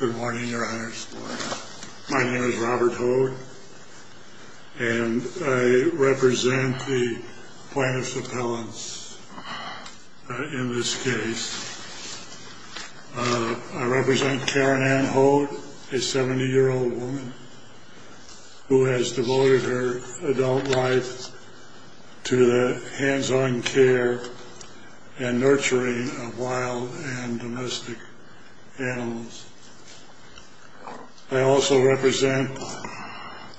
Good morning, your honors. My name is Robert Hoad, and I represent the plaintiff's appellants in this case. I represent Karin Ann Hoad, a 70-year-old woman who has devoted her adult life to the hands-on care and nurturing of wild and domestic animals. I also represent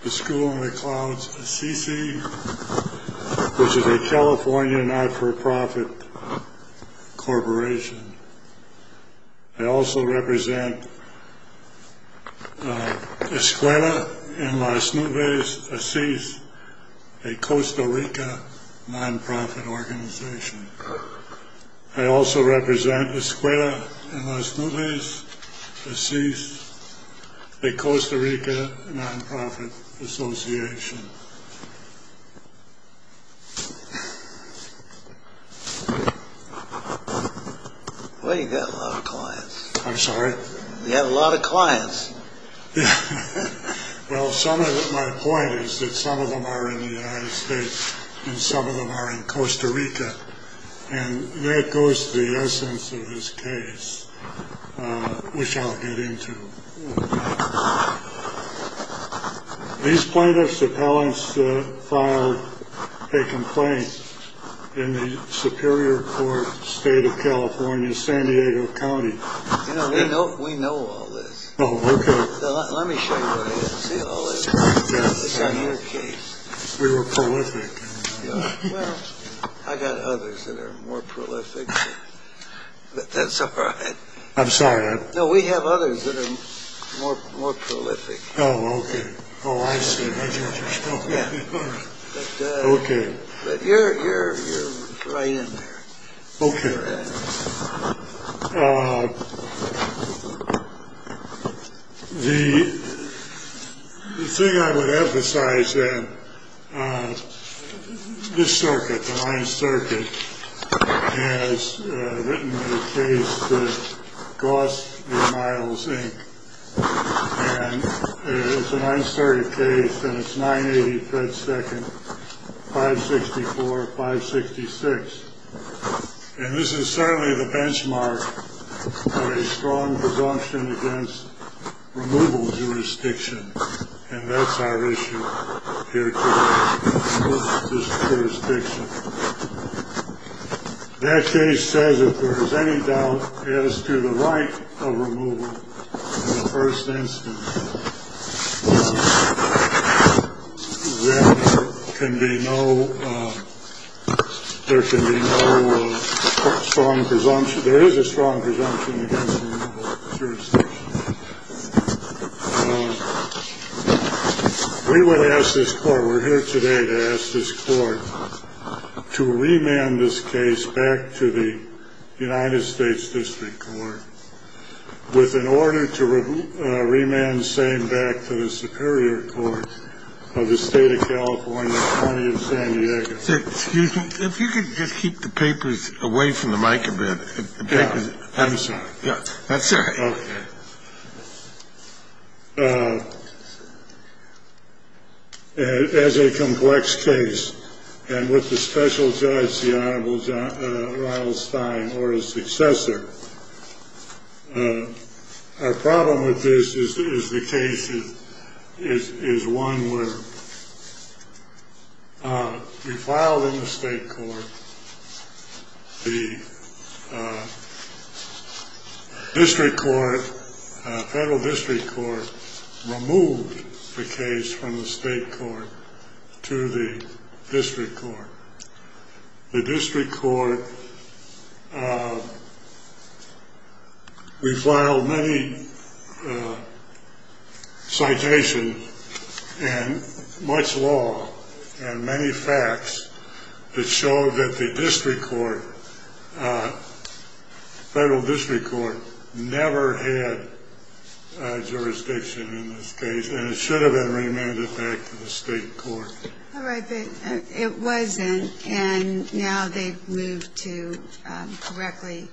the School in the Clouds, ASISI, which is a California not-for-profit corporation. I also represent Escuela en las Nubes, ASISI, a Costa Rica non-profit organization. I also represent Escuela en las Nubes, ASISI, a Costa Rica non-profit association. Well, you've got a lot of clients. I'm sorry? Well, my point is that some of them are in the United States, and some of them are in Costa Rica. And that goes to the essence of this case, which I'll get into. These plaintiff's appellants filed a complaint in the Superior Court, State of California, San Diego County. You know, we know all this. Oh, okay. Let me show you all this. This is your case. We were prolific. Well, I've got others that are more prolific, but that's all right. I'm sorry? No, we have others that are more prolific. Oh, okay. Oh, I see. I didn't just know that. Okay. But you're right in there. Okay. The thing I would emphasize, then, this circuit, the Ninth Circuit, has written a case that costs me miles, Inc. And it's a 930 case, and it's 980-fet-second, 564-566. And this is certainly the benchmark of a strong presumption against removal jurisdiction, and that's our issue here today, this jurisdiction. That case says if there is any doubt as to the right of removal in the first instance, then there can be no strong presumption. There is a strong presumption against removal jurisdiction. We would ask this court, we're here today to ask this court, to remand this case back to the United States District Court with an order to remand same back to the Superior Court of the State of California, County of San Diego. Sir, excuse me. If you could just keep the papers away from the mic a bit. I'm sorry. That's all right. Okay. As a complex case, and with the special judge, the Honorable Ronald Stein, or his successor, our problem with this is the case is one where we filed in the state court, the district court, federal district court, removed the case from the state court to the district court. The district court, we filed many citations and much law and many facts that showed that the district court, federal district court, never had jurisdiction in this case, and it should have been remanded back to the state court. All right. It wasn't, and now they've moved to correctly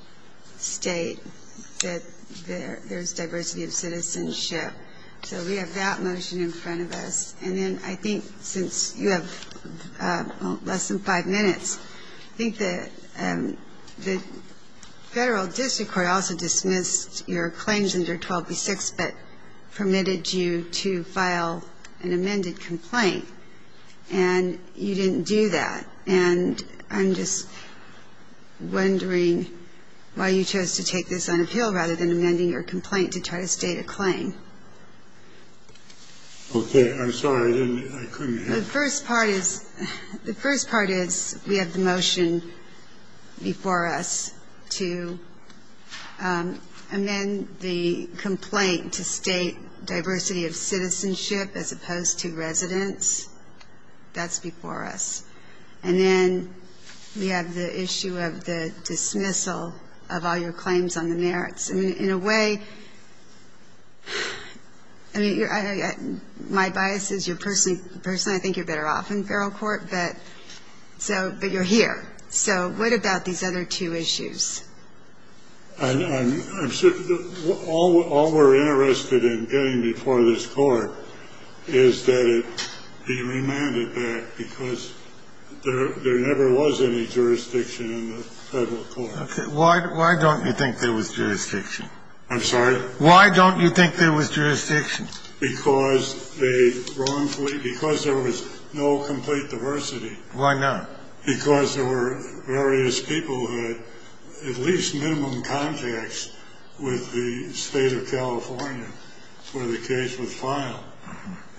state that there's diversity of citizenship. So we have that motion in front of us. And then I think since you have less than five minutes, I think the federal district court also dismissed your claims under 12B-6 but permitted you to file an amended complaint, and you didn't do that. And I'm just wondering why you chose to take this on appeal rather than amending your complaint to try to state a claim. Okay. I'm sorry. I couldn't hear. The first part is we have the motion before us to amend the complaint to state diversity of citizenship as opposed to residence. That's before us. And then we have the issue of the dismissal of all your claims on the merits. I mean, in a way, I mean, my bias is you're personally I think you're better off in federal court, but so you're here. So what about these other two issues? All we're interested in getting before this court is that it be remanded back because there never was any jurisdiction in the federal court. Why don't you think there was jurisdiction? I'm sorry. Why don't you think there was jurisdiction? Because there was no complete diversity. Why not? Because there were various people who had at least minimum contacts with the state of California where the case was filed.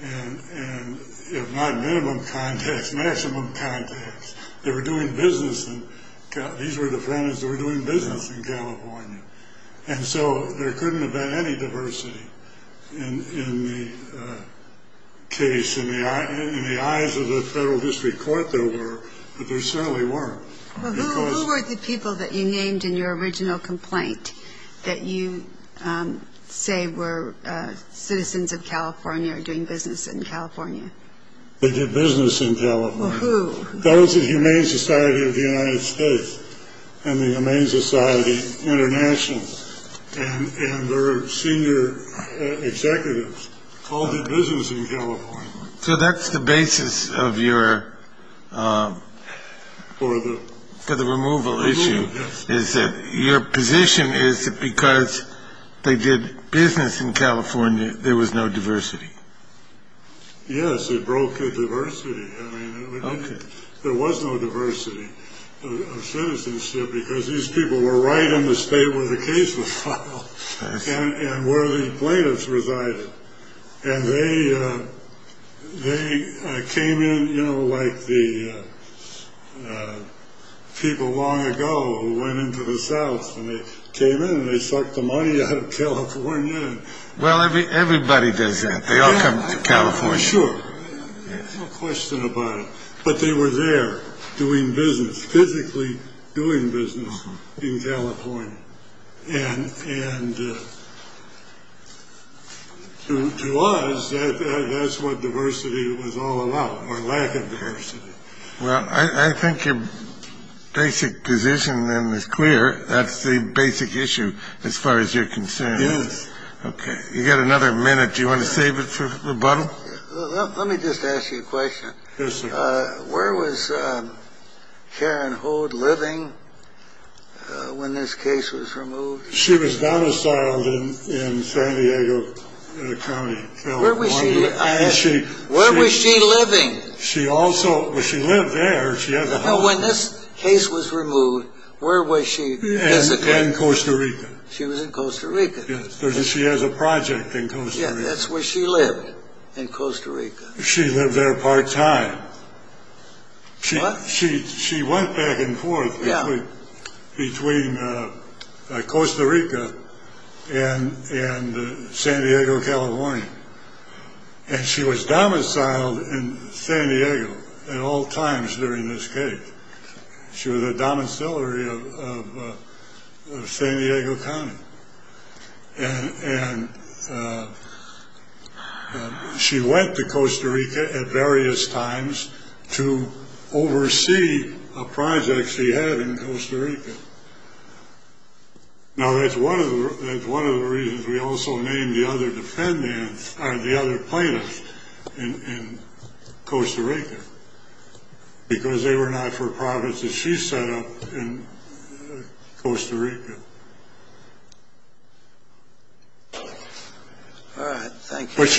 And if not minimum contacts, maximum contacts. They were doing business. These were the families that were doing business in California. And so there couldn't have been any diversity in the case in the eyes of the federal district court there were, but there certainly weren't. Who were the people that you named in your original complaint that you say were citizens of California or doing business in California? They did business in California. Those in Humane Society of the United States and the Humane Society International and their senior executives all did business in California. So that's the basis of your for the removal issue is that your position is that because they did business in California, there was no diversity. Yes, it broke the diversity. There was no diversity of citizenship because these people were right in the state where the case was filed and where the plaintiffs resided. And they came in like the people long ago who went into the South and they came in and they sucked the money out of California. Well, everybody does that. They all come to California. Sure. No question about it. But they were there doing business, physically doing business in California. And to us, that's what diversity was all about, or lack of diversity. Well, I think your basic position then is clear. That's the basic issue as far as you're concerned. Yes. Okay. You got another minute. Do you want to save it for rebuttal? Let me just ask you a question. Where was Karen Hode living when this case was removed? She was domiciled in San Diego County. Where was she living? She also, well, she lived there. When this case was removed, where was she physically? In Costa Rica. She was in Costa Rica. She has a project in Costa Rica. Yeah, that's where she lived, in Costa Rica. She lived there part time. What? She went back and forth between Costa Rica and San Diego, California. And she was domiciled in San Diego at all times during this case. She was a domiciliary of San Diego County. And she went to Costa Rica at various times to oversee a project she had in Costa Rica. Now, that's one of the reasons we also named the other defendants, the other plaintiffs, in Costa Rica, because they were not for profits that she set up in Costa Rica. Thank you. But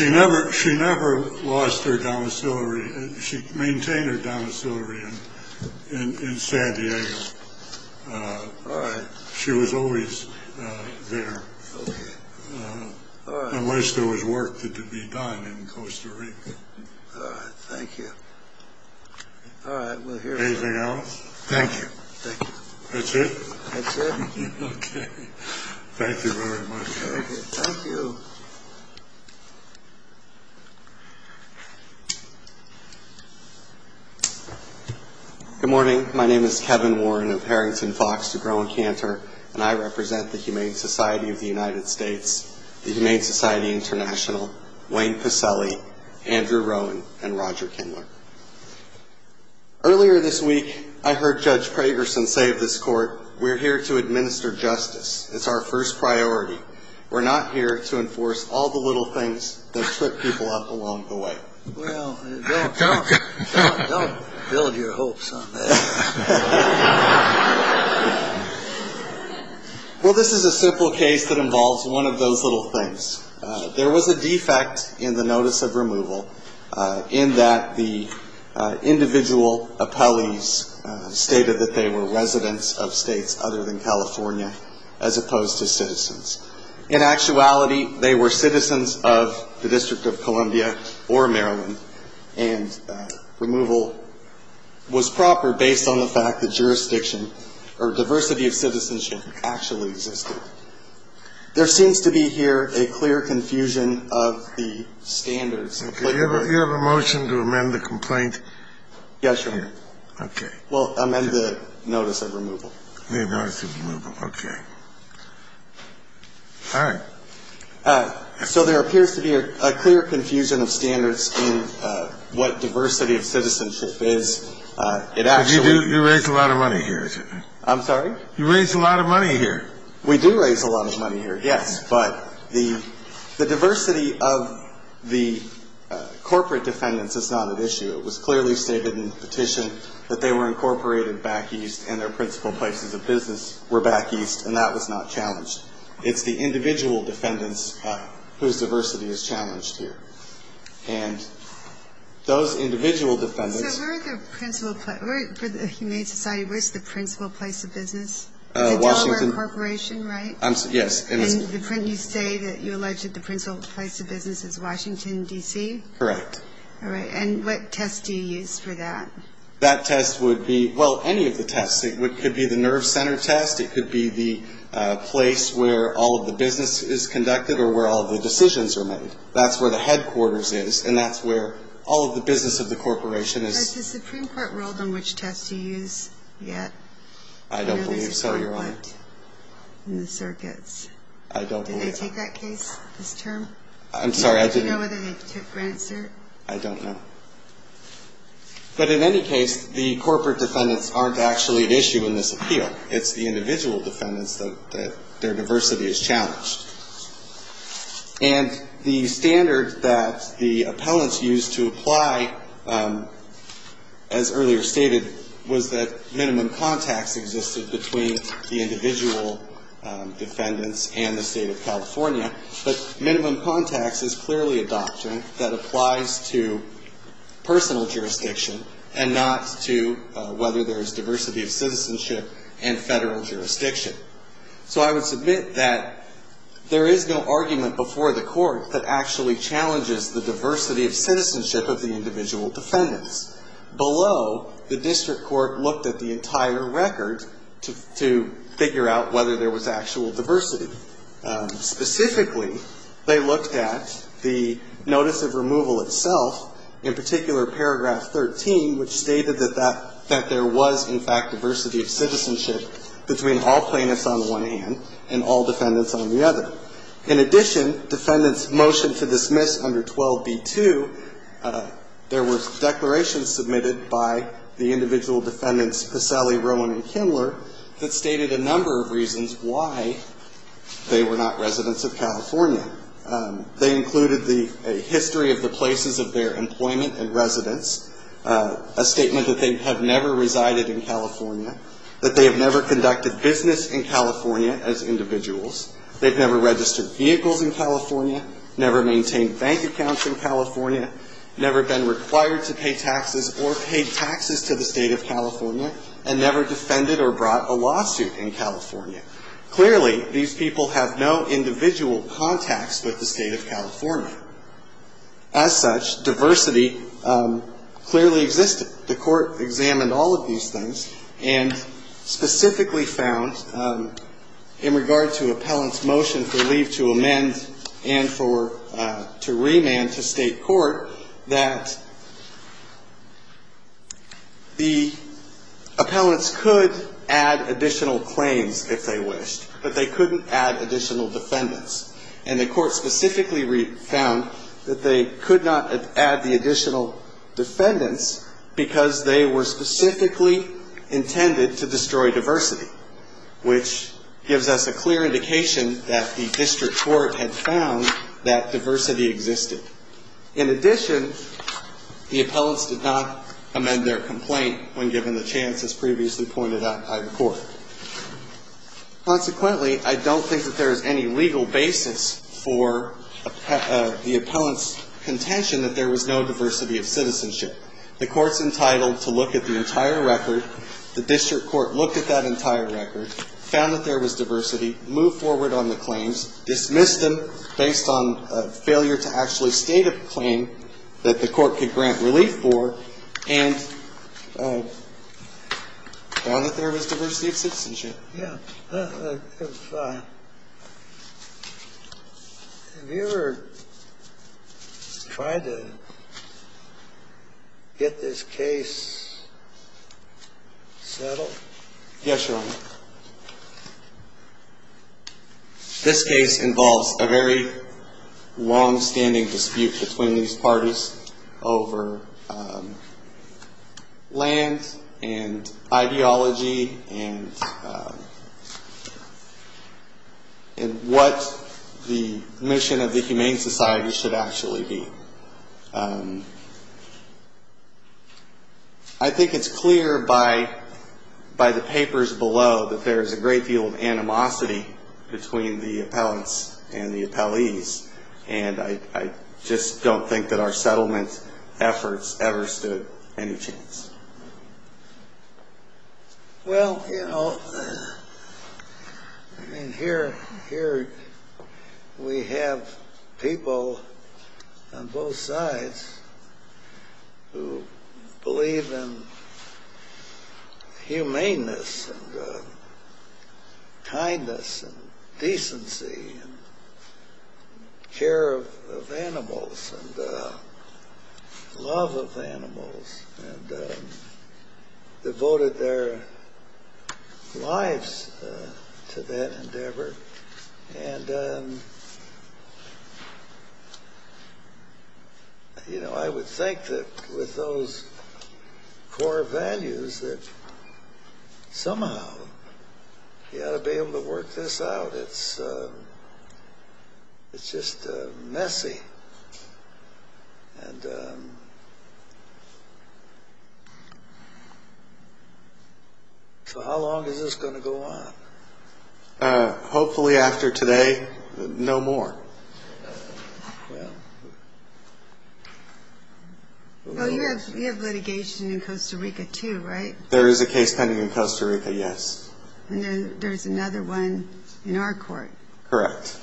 she never lost her domiciliary. She maintained her domiciliary in San Diego. All right. She was always there. Okay. All right. Unless there was work to be done in Costa Rica. All right. Thank you. All right. Anything else? Thank you. Thank you. That's it? That's it. Okay. Thank you very much. Thank you. Thank you. Thank you. Thank you. Thank you. Thank you. Good morning. My name is Kevin Warren of Harrington Fox to Rowan Cantor. And I represent the Humane Society of the United States, the Humane Society International, Wayne Paselli, Andrew Rowan, and Roger Kindler. Earlier this week, I heard Judge Pragerson say of this court, we're here to administer justice. It's our first priority. We're not here to enforce all the little things that trip people up along the way. Well, don't build your hopes on that. Well, this is a simple case that involves one of those little things. There was a defect in the notice of removal in that the individual appellees stated that they were residents of states other than California as opposed to citizens. In actuality, they were citizens of the District of Columbia or Maryland, and removal was proper based on the fact that jurisdiction or diversity of citizenship actually existed. There seems to be here a clear confusion of the standards. Do you have a motion to amend the complaint? Yes, Your Honor. Okay. We'll amend the notice of removal. The notice of removal. Okay. All right. So there appears to be a clear confusion of standards in what diversity of citizenship is. It actually – You raise a lot of money here. I'm sorry? You raise a lot of money here. We do raise a lot of money here, yes. But the diversity of the corporate defendants is not at issue. It was clearly stated in the petition that they were incorporated back east and their principal places of business were back east, and that was not challenged. It's the individual defendants whose diversity is challenged here. And those individual defendants – So where are the principal – for the Humane Society, where's the principal place of business? Washington – It's a Delaware corporation, right? Yes. And you say that you allege that the principal place of business is Washington, D.C.? Correct. All right. And what test do you use for that? That test would be – well, any of the tests. It could be the nerve center test. It could be the place where all of the business is conducted or where all of the decisions are made. That's where the headquarters is, and that's where all of the business of the corporation is. Has the Supreme Court ruled on which test to use yet? I don't believe so, Your Honor. I know there's a comment in the circuits. I don't believe so. Did they take that case, this term? I'm sorry, I didn't – Do you know whether they took Grant's cert? I don't know. But in any case, the corporate defendants aren't actually at issue in this appeal. It's the individual defendants that their diversity is challenged. And the standard that the appellants used to apply, as earlier stated, was that minimum contacts existed between the individual defendants and the State of California. But minimum contacts is clearly a doctrine that applies to personal jurisdiction and not to whether there is diversity of citizenship in Federal jurisdiction. So I would submit that there is no argument before the Court that actually challenges the diversity of citizenship of the individual defendants. Below, the district court looked at the entire record to figure out whether there was actual diversity. Specifically, they looked at the notice of removal itself, in particular paragraph 13, which stated that there was, in fact, diversity of citizenship between all plaintiffs on the one hand and all defendants on the other. In addition, defendants motioned to dismiss under 12b-2, there were declarations submitted by the individual defendants Paselli, Rowan, and Kindler that stated a number of reasons why they were not residents of California. They included the history of the places of their employment and residence, a statement that they have never resided in California, that they have never conducted business in California as individuals, they've never registered vehicles in California, never maintained bank accounts in California, never been required to pay taxes or paid taxes to the State of California, and never defended or brought a lawsuit in California. Clearly, these people have no individual contacts with the State of California. As such, diversity clearly existed. The Court examined all of these things and specifically found, in regard to appellant's motion for leave to amend and for to remand to State court, that the appellants could add additional claims if they wished, but they couldn't add additional defendants. And the Court specifically found that they could not add the additional defendants because they were specifically intended to destroy diversity, which gives us a clear indication that the District Court had found that diversity existed. In addition, the appellants did not amend their complaint when given the chance as previously pointed out by the Court. Consequently, I don't think that there is any legal basis for the appellant's contention that there was no diversity of citizenship. The Court's entitled to look at the entire record. The District Court looked at that entire record, found that there was diversity, moved forward on the claims, dismissed them based on failure to actually state a claim that the Court could grant relief for, and found that there was diversity of citizenship. Yeah. Have you ever tried to get this case settled? Yes, Your Honor. This case involves a very longstanding dispute between these parties over land and ideology and what the mission of the Humane Society should actually be. I think it's clear by the papers below that there is a great deal of animosity between the appellants and the appellees, and I just don't think that our settlement efforts ever stood any chance. Well, you know, here we have people on both sides who believe in humaneness and kindness and decency and care of animals and love of animals, and devoted their lives to that endeavor. And, you know, I would think that with those core values, that somehow you ought to be able to work this out. It's just messy. And so how long is this going to go on? Hopefully after today, no more. Well, you have litigation in Costa Rica, too, right? There is a case pending in Costa Rica, yes. And there's another one in our court. Correct.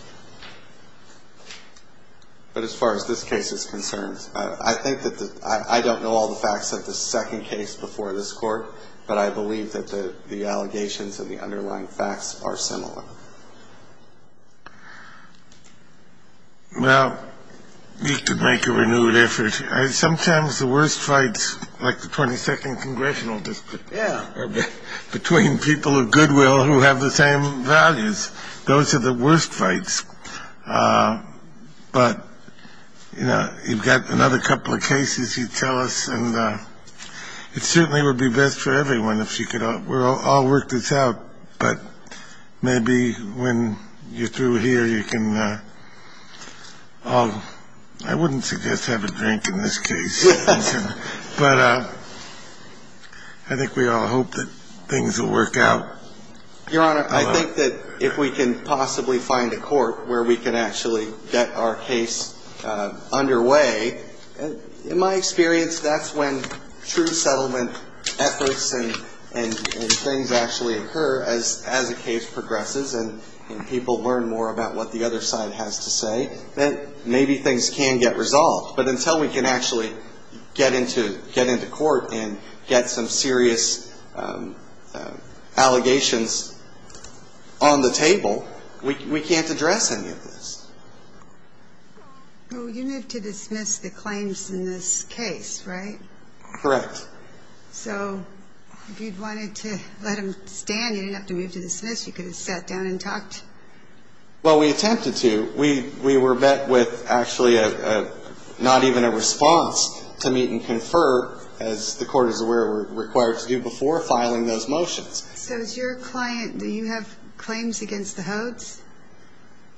But as far as this case is concerned, I think that the – I don't know all the facts of the second case before this Court, but I believe that the allegations and the underlying facts are similar. Well, we could make a renewed effort. Sometimes the worst fights, like the 22nd Congressional District, are between people of goodwill who have the same values. Those are the worst fights. But, you know, you've got another couple of cases you tell us, and it certainly would be best for everyone if you could all work this out. But maybe when you're through here, you can all – I wouldn't suggest having a drink in this case. But I think we all hope that things will work out. Your Honor, I think that if we can possibly find a court where we can actually get our case underway, in my experience, that's when true settlement efforts and things actually occur as a case progresses and people learn more about what the other side has to say. Then maybe things can get resolved. But until we can actually get into court and get some serious allegations on the table, we can't address any of this. Well, you moved to dismiss the claims in this case, right? Correct. So if you'd wanted to let them stand, you didn't have to move to dismiss. You could have sat down and talked. Well, we attempted to. We were met with actually not even a response to meet and confer, as the Court is aware we're required to do before filing those motions. So as your client, do you have claims against the Hodes?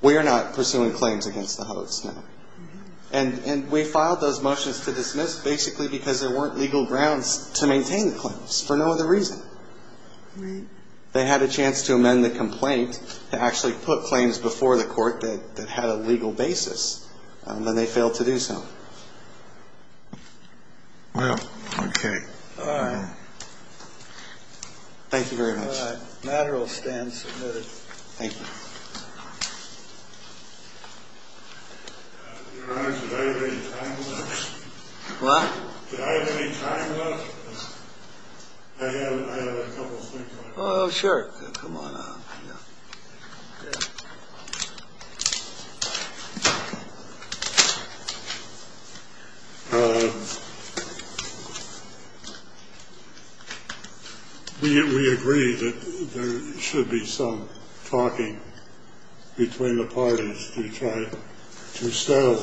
We are not pursuing claims against the Hodes, no. And we filed those motions to dismiss basically because there weren't legal grounds to maintain the claims for no other reason. Right. They had a chance to amend the complaint to actually put claims before the Court that had a legal basis, and then they failed to do so. Well, okay. All right. Thank you very much. All right. Matter will stand submitted. Thank you. Your Honor, do I have any time left? What? Do I have any time left? I have a couple of things. Oh, sure. Come on up. We agree that there should be some talking between the parties to try to settle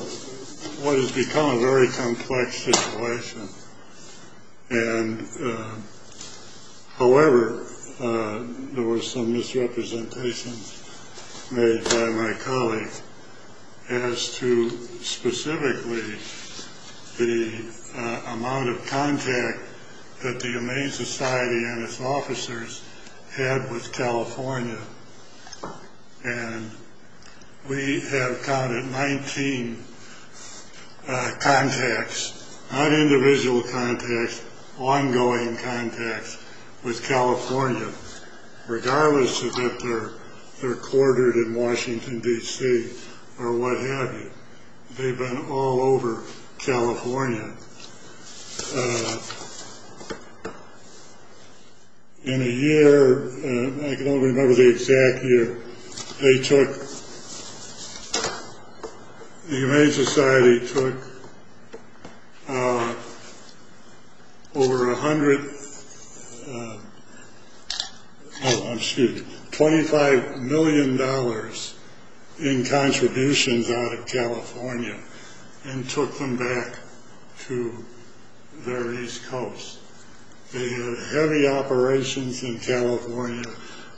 what has become a very complex situation. And, however, there were some misrepresentations made by my colleague as to specifically the amount of contact that the Humane Society and its officers had with California. And we have counted 19 contacts, not individual contacts, ongoing contacts with California, regardless of that they're quartered in Washington, D.C., or what have you. They've been all over California. In a year, I don't remember the exact year, they took the Humane Society took over a hundred, oh, I'm sorry, $25 million in contributions out of California and took them back to their east coast. They had heavy operations in California.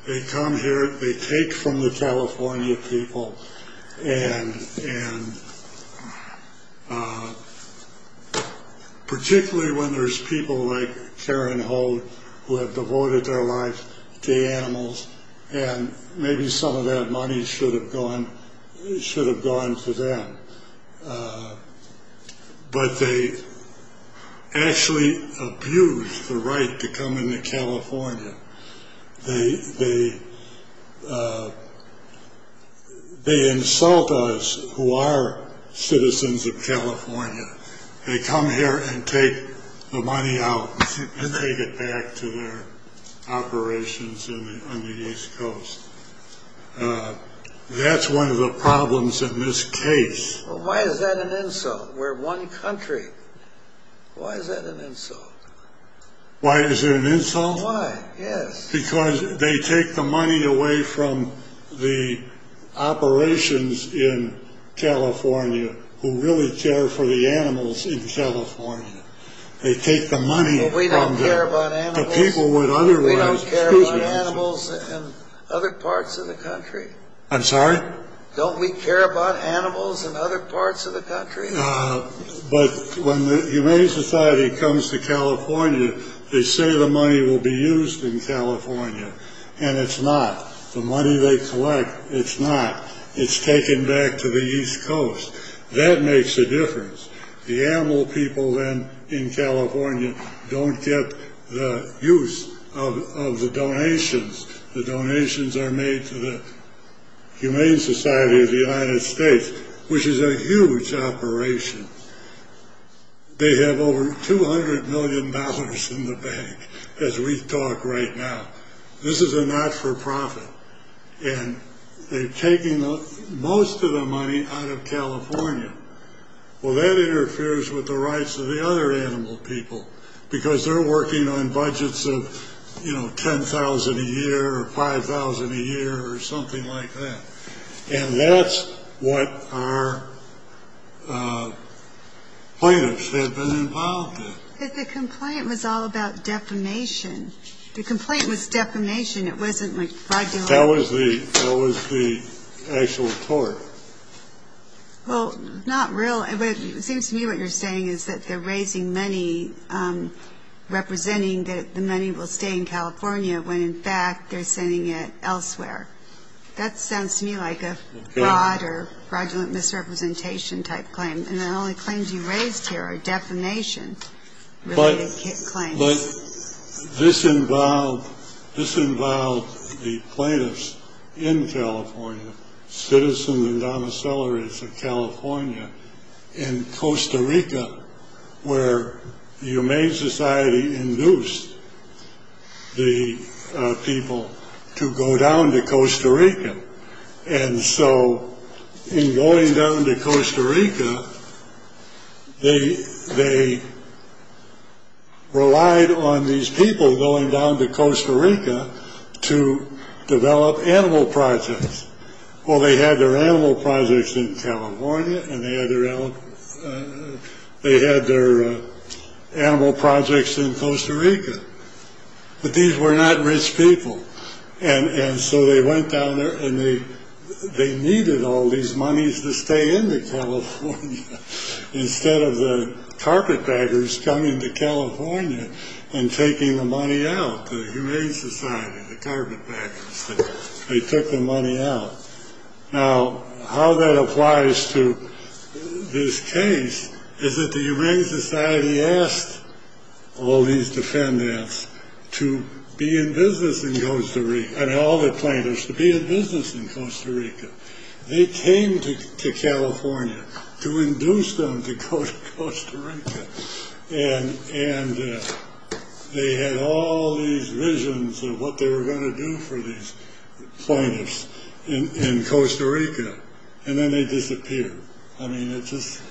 They come here, they take from the California people, and particularly when there's people like Karen Hogue who have devoted their lives to animals, and maybe some of that money should have gone to them. But they actually abused the right to come into California. They insult us who are citizens of California. They come here and take the money out and take it back to their operations on the east coast. That's one of the problems in this case. Why is that an insult? We're one country. Why is that an insult? Why is it an insult? Why? Yes. Because they take the money away from the operations in California who really care for the animals in California. They take the money from them. But we don't care about animals. But people would otherwise. We don't care about animals in other parts of the country. I'm sorry? Don't we care about animals in other parts of the country? But when the Humane Society comes to California, they say the money will be used in California, and it's not. The money they collect, it's not. It's taken back to the east coast. That makes a difference. The animal people then in California don't get the use of the donations. The donations are made to the Humane Society of the United States, which is a huge operation. They have over $200 million in the bank, as we talk right now. This is a not-for-profit. And they've taken most of the money out of California. Well, that interferes with the rights of the other animal people because they're working on budgets of $10,000 a year or $5,000 a year or something like that. And that's what our plaintiffs have been involved in. But the complaint was all about defamation. The complaint was defamation. That was the actual tort. Well, not real. It seems to me what you're saying is that they're raising money representing that the money will stay in California when, in fact, they're sending it elsewhere. That sounds to me like a fraud or fraudulent misrepresentation type claim. And the only claims you raised here are defamation-related claims. But this involved the plaintiffs in California, citizens and domiciliaries of California, in Costa Rica, where the Humane Society induced the people to go down to Costa Rica. And so in going down to Costa Rica, they relied on these people going down to Costa Rica to develop animal projects. Well, they had their animal projects in California, and they had their animal projects in Costa Rica. But these were not rich people. And so they went down there, and they needed all these monies to stay in California instead of the carpetbaggers coming to California and taking the money out, the Humane Society, the carpetbaggers. They took the money out. Now, how that applies to this case is that the Humane Society asked all these defendants to be in business in Costa Rica. I mean, all the plaintiffs to be in business in Costa Rica. They came to California to induce them to go to Costa Rica. And they had all these visions of what they were going to do for these plaintiffs in Costa Rica. And then they disappeared. I mean, it's just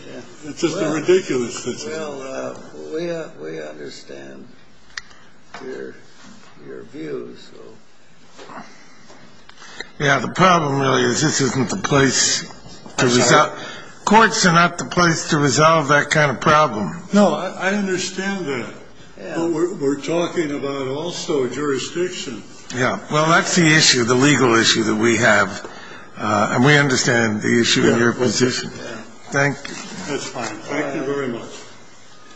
a ridiculous situation. Well, we understand your views. Yeah, the problem really is this isn't the place to resolve. Courts are not the place to resolve that kind of problem. No, I understand that. But we're talking about also jurisdiction. Yeah, well, that's the issue, the legal issue that we have. And we understand the issue in your position. Thank you. That's fine. Thank you very much.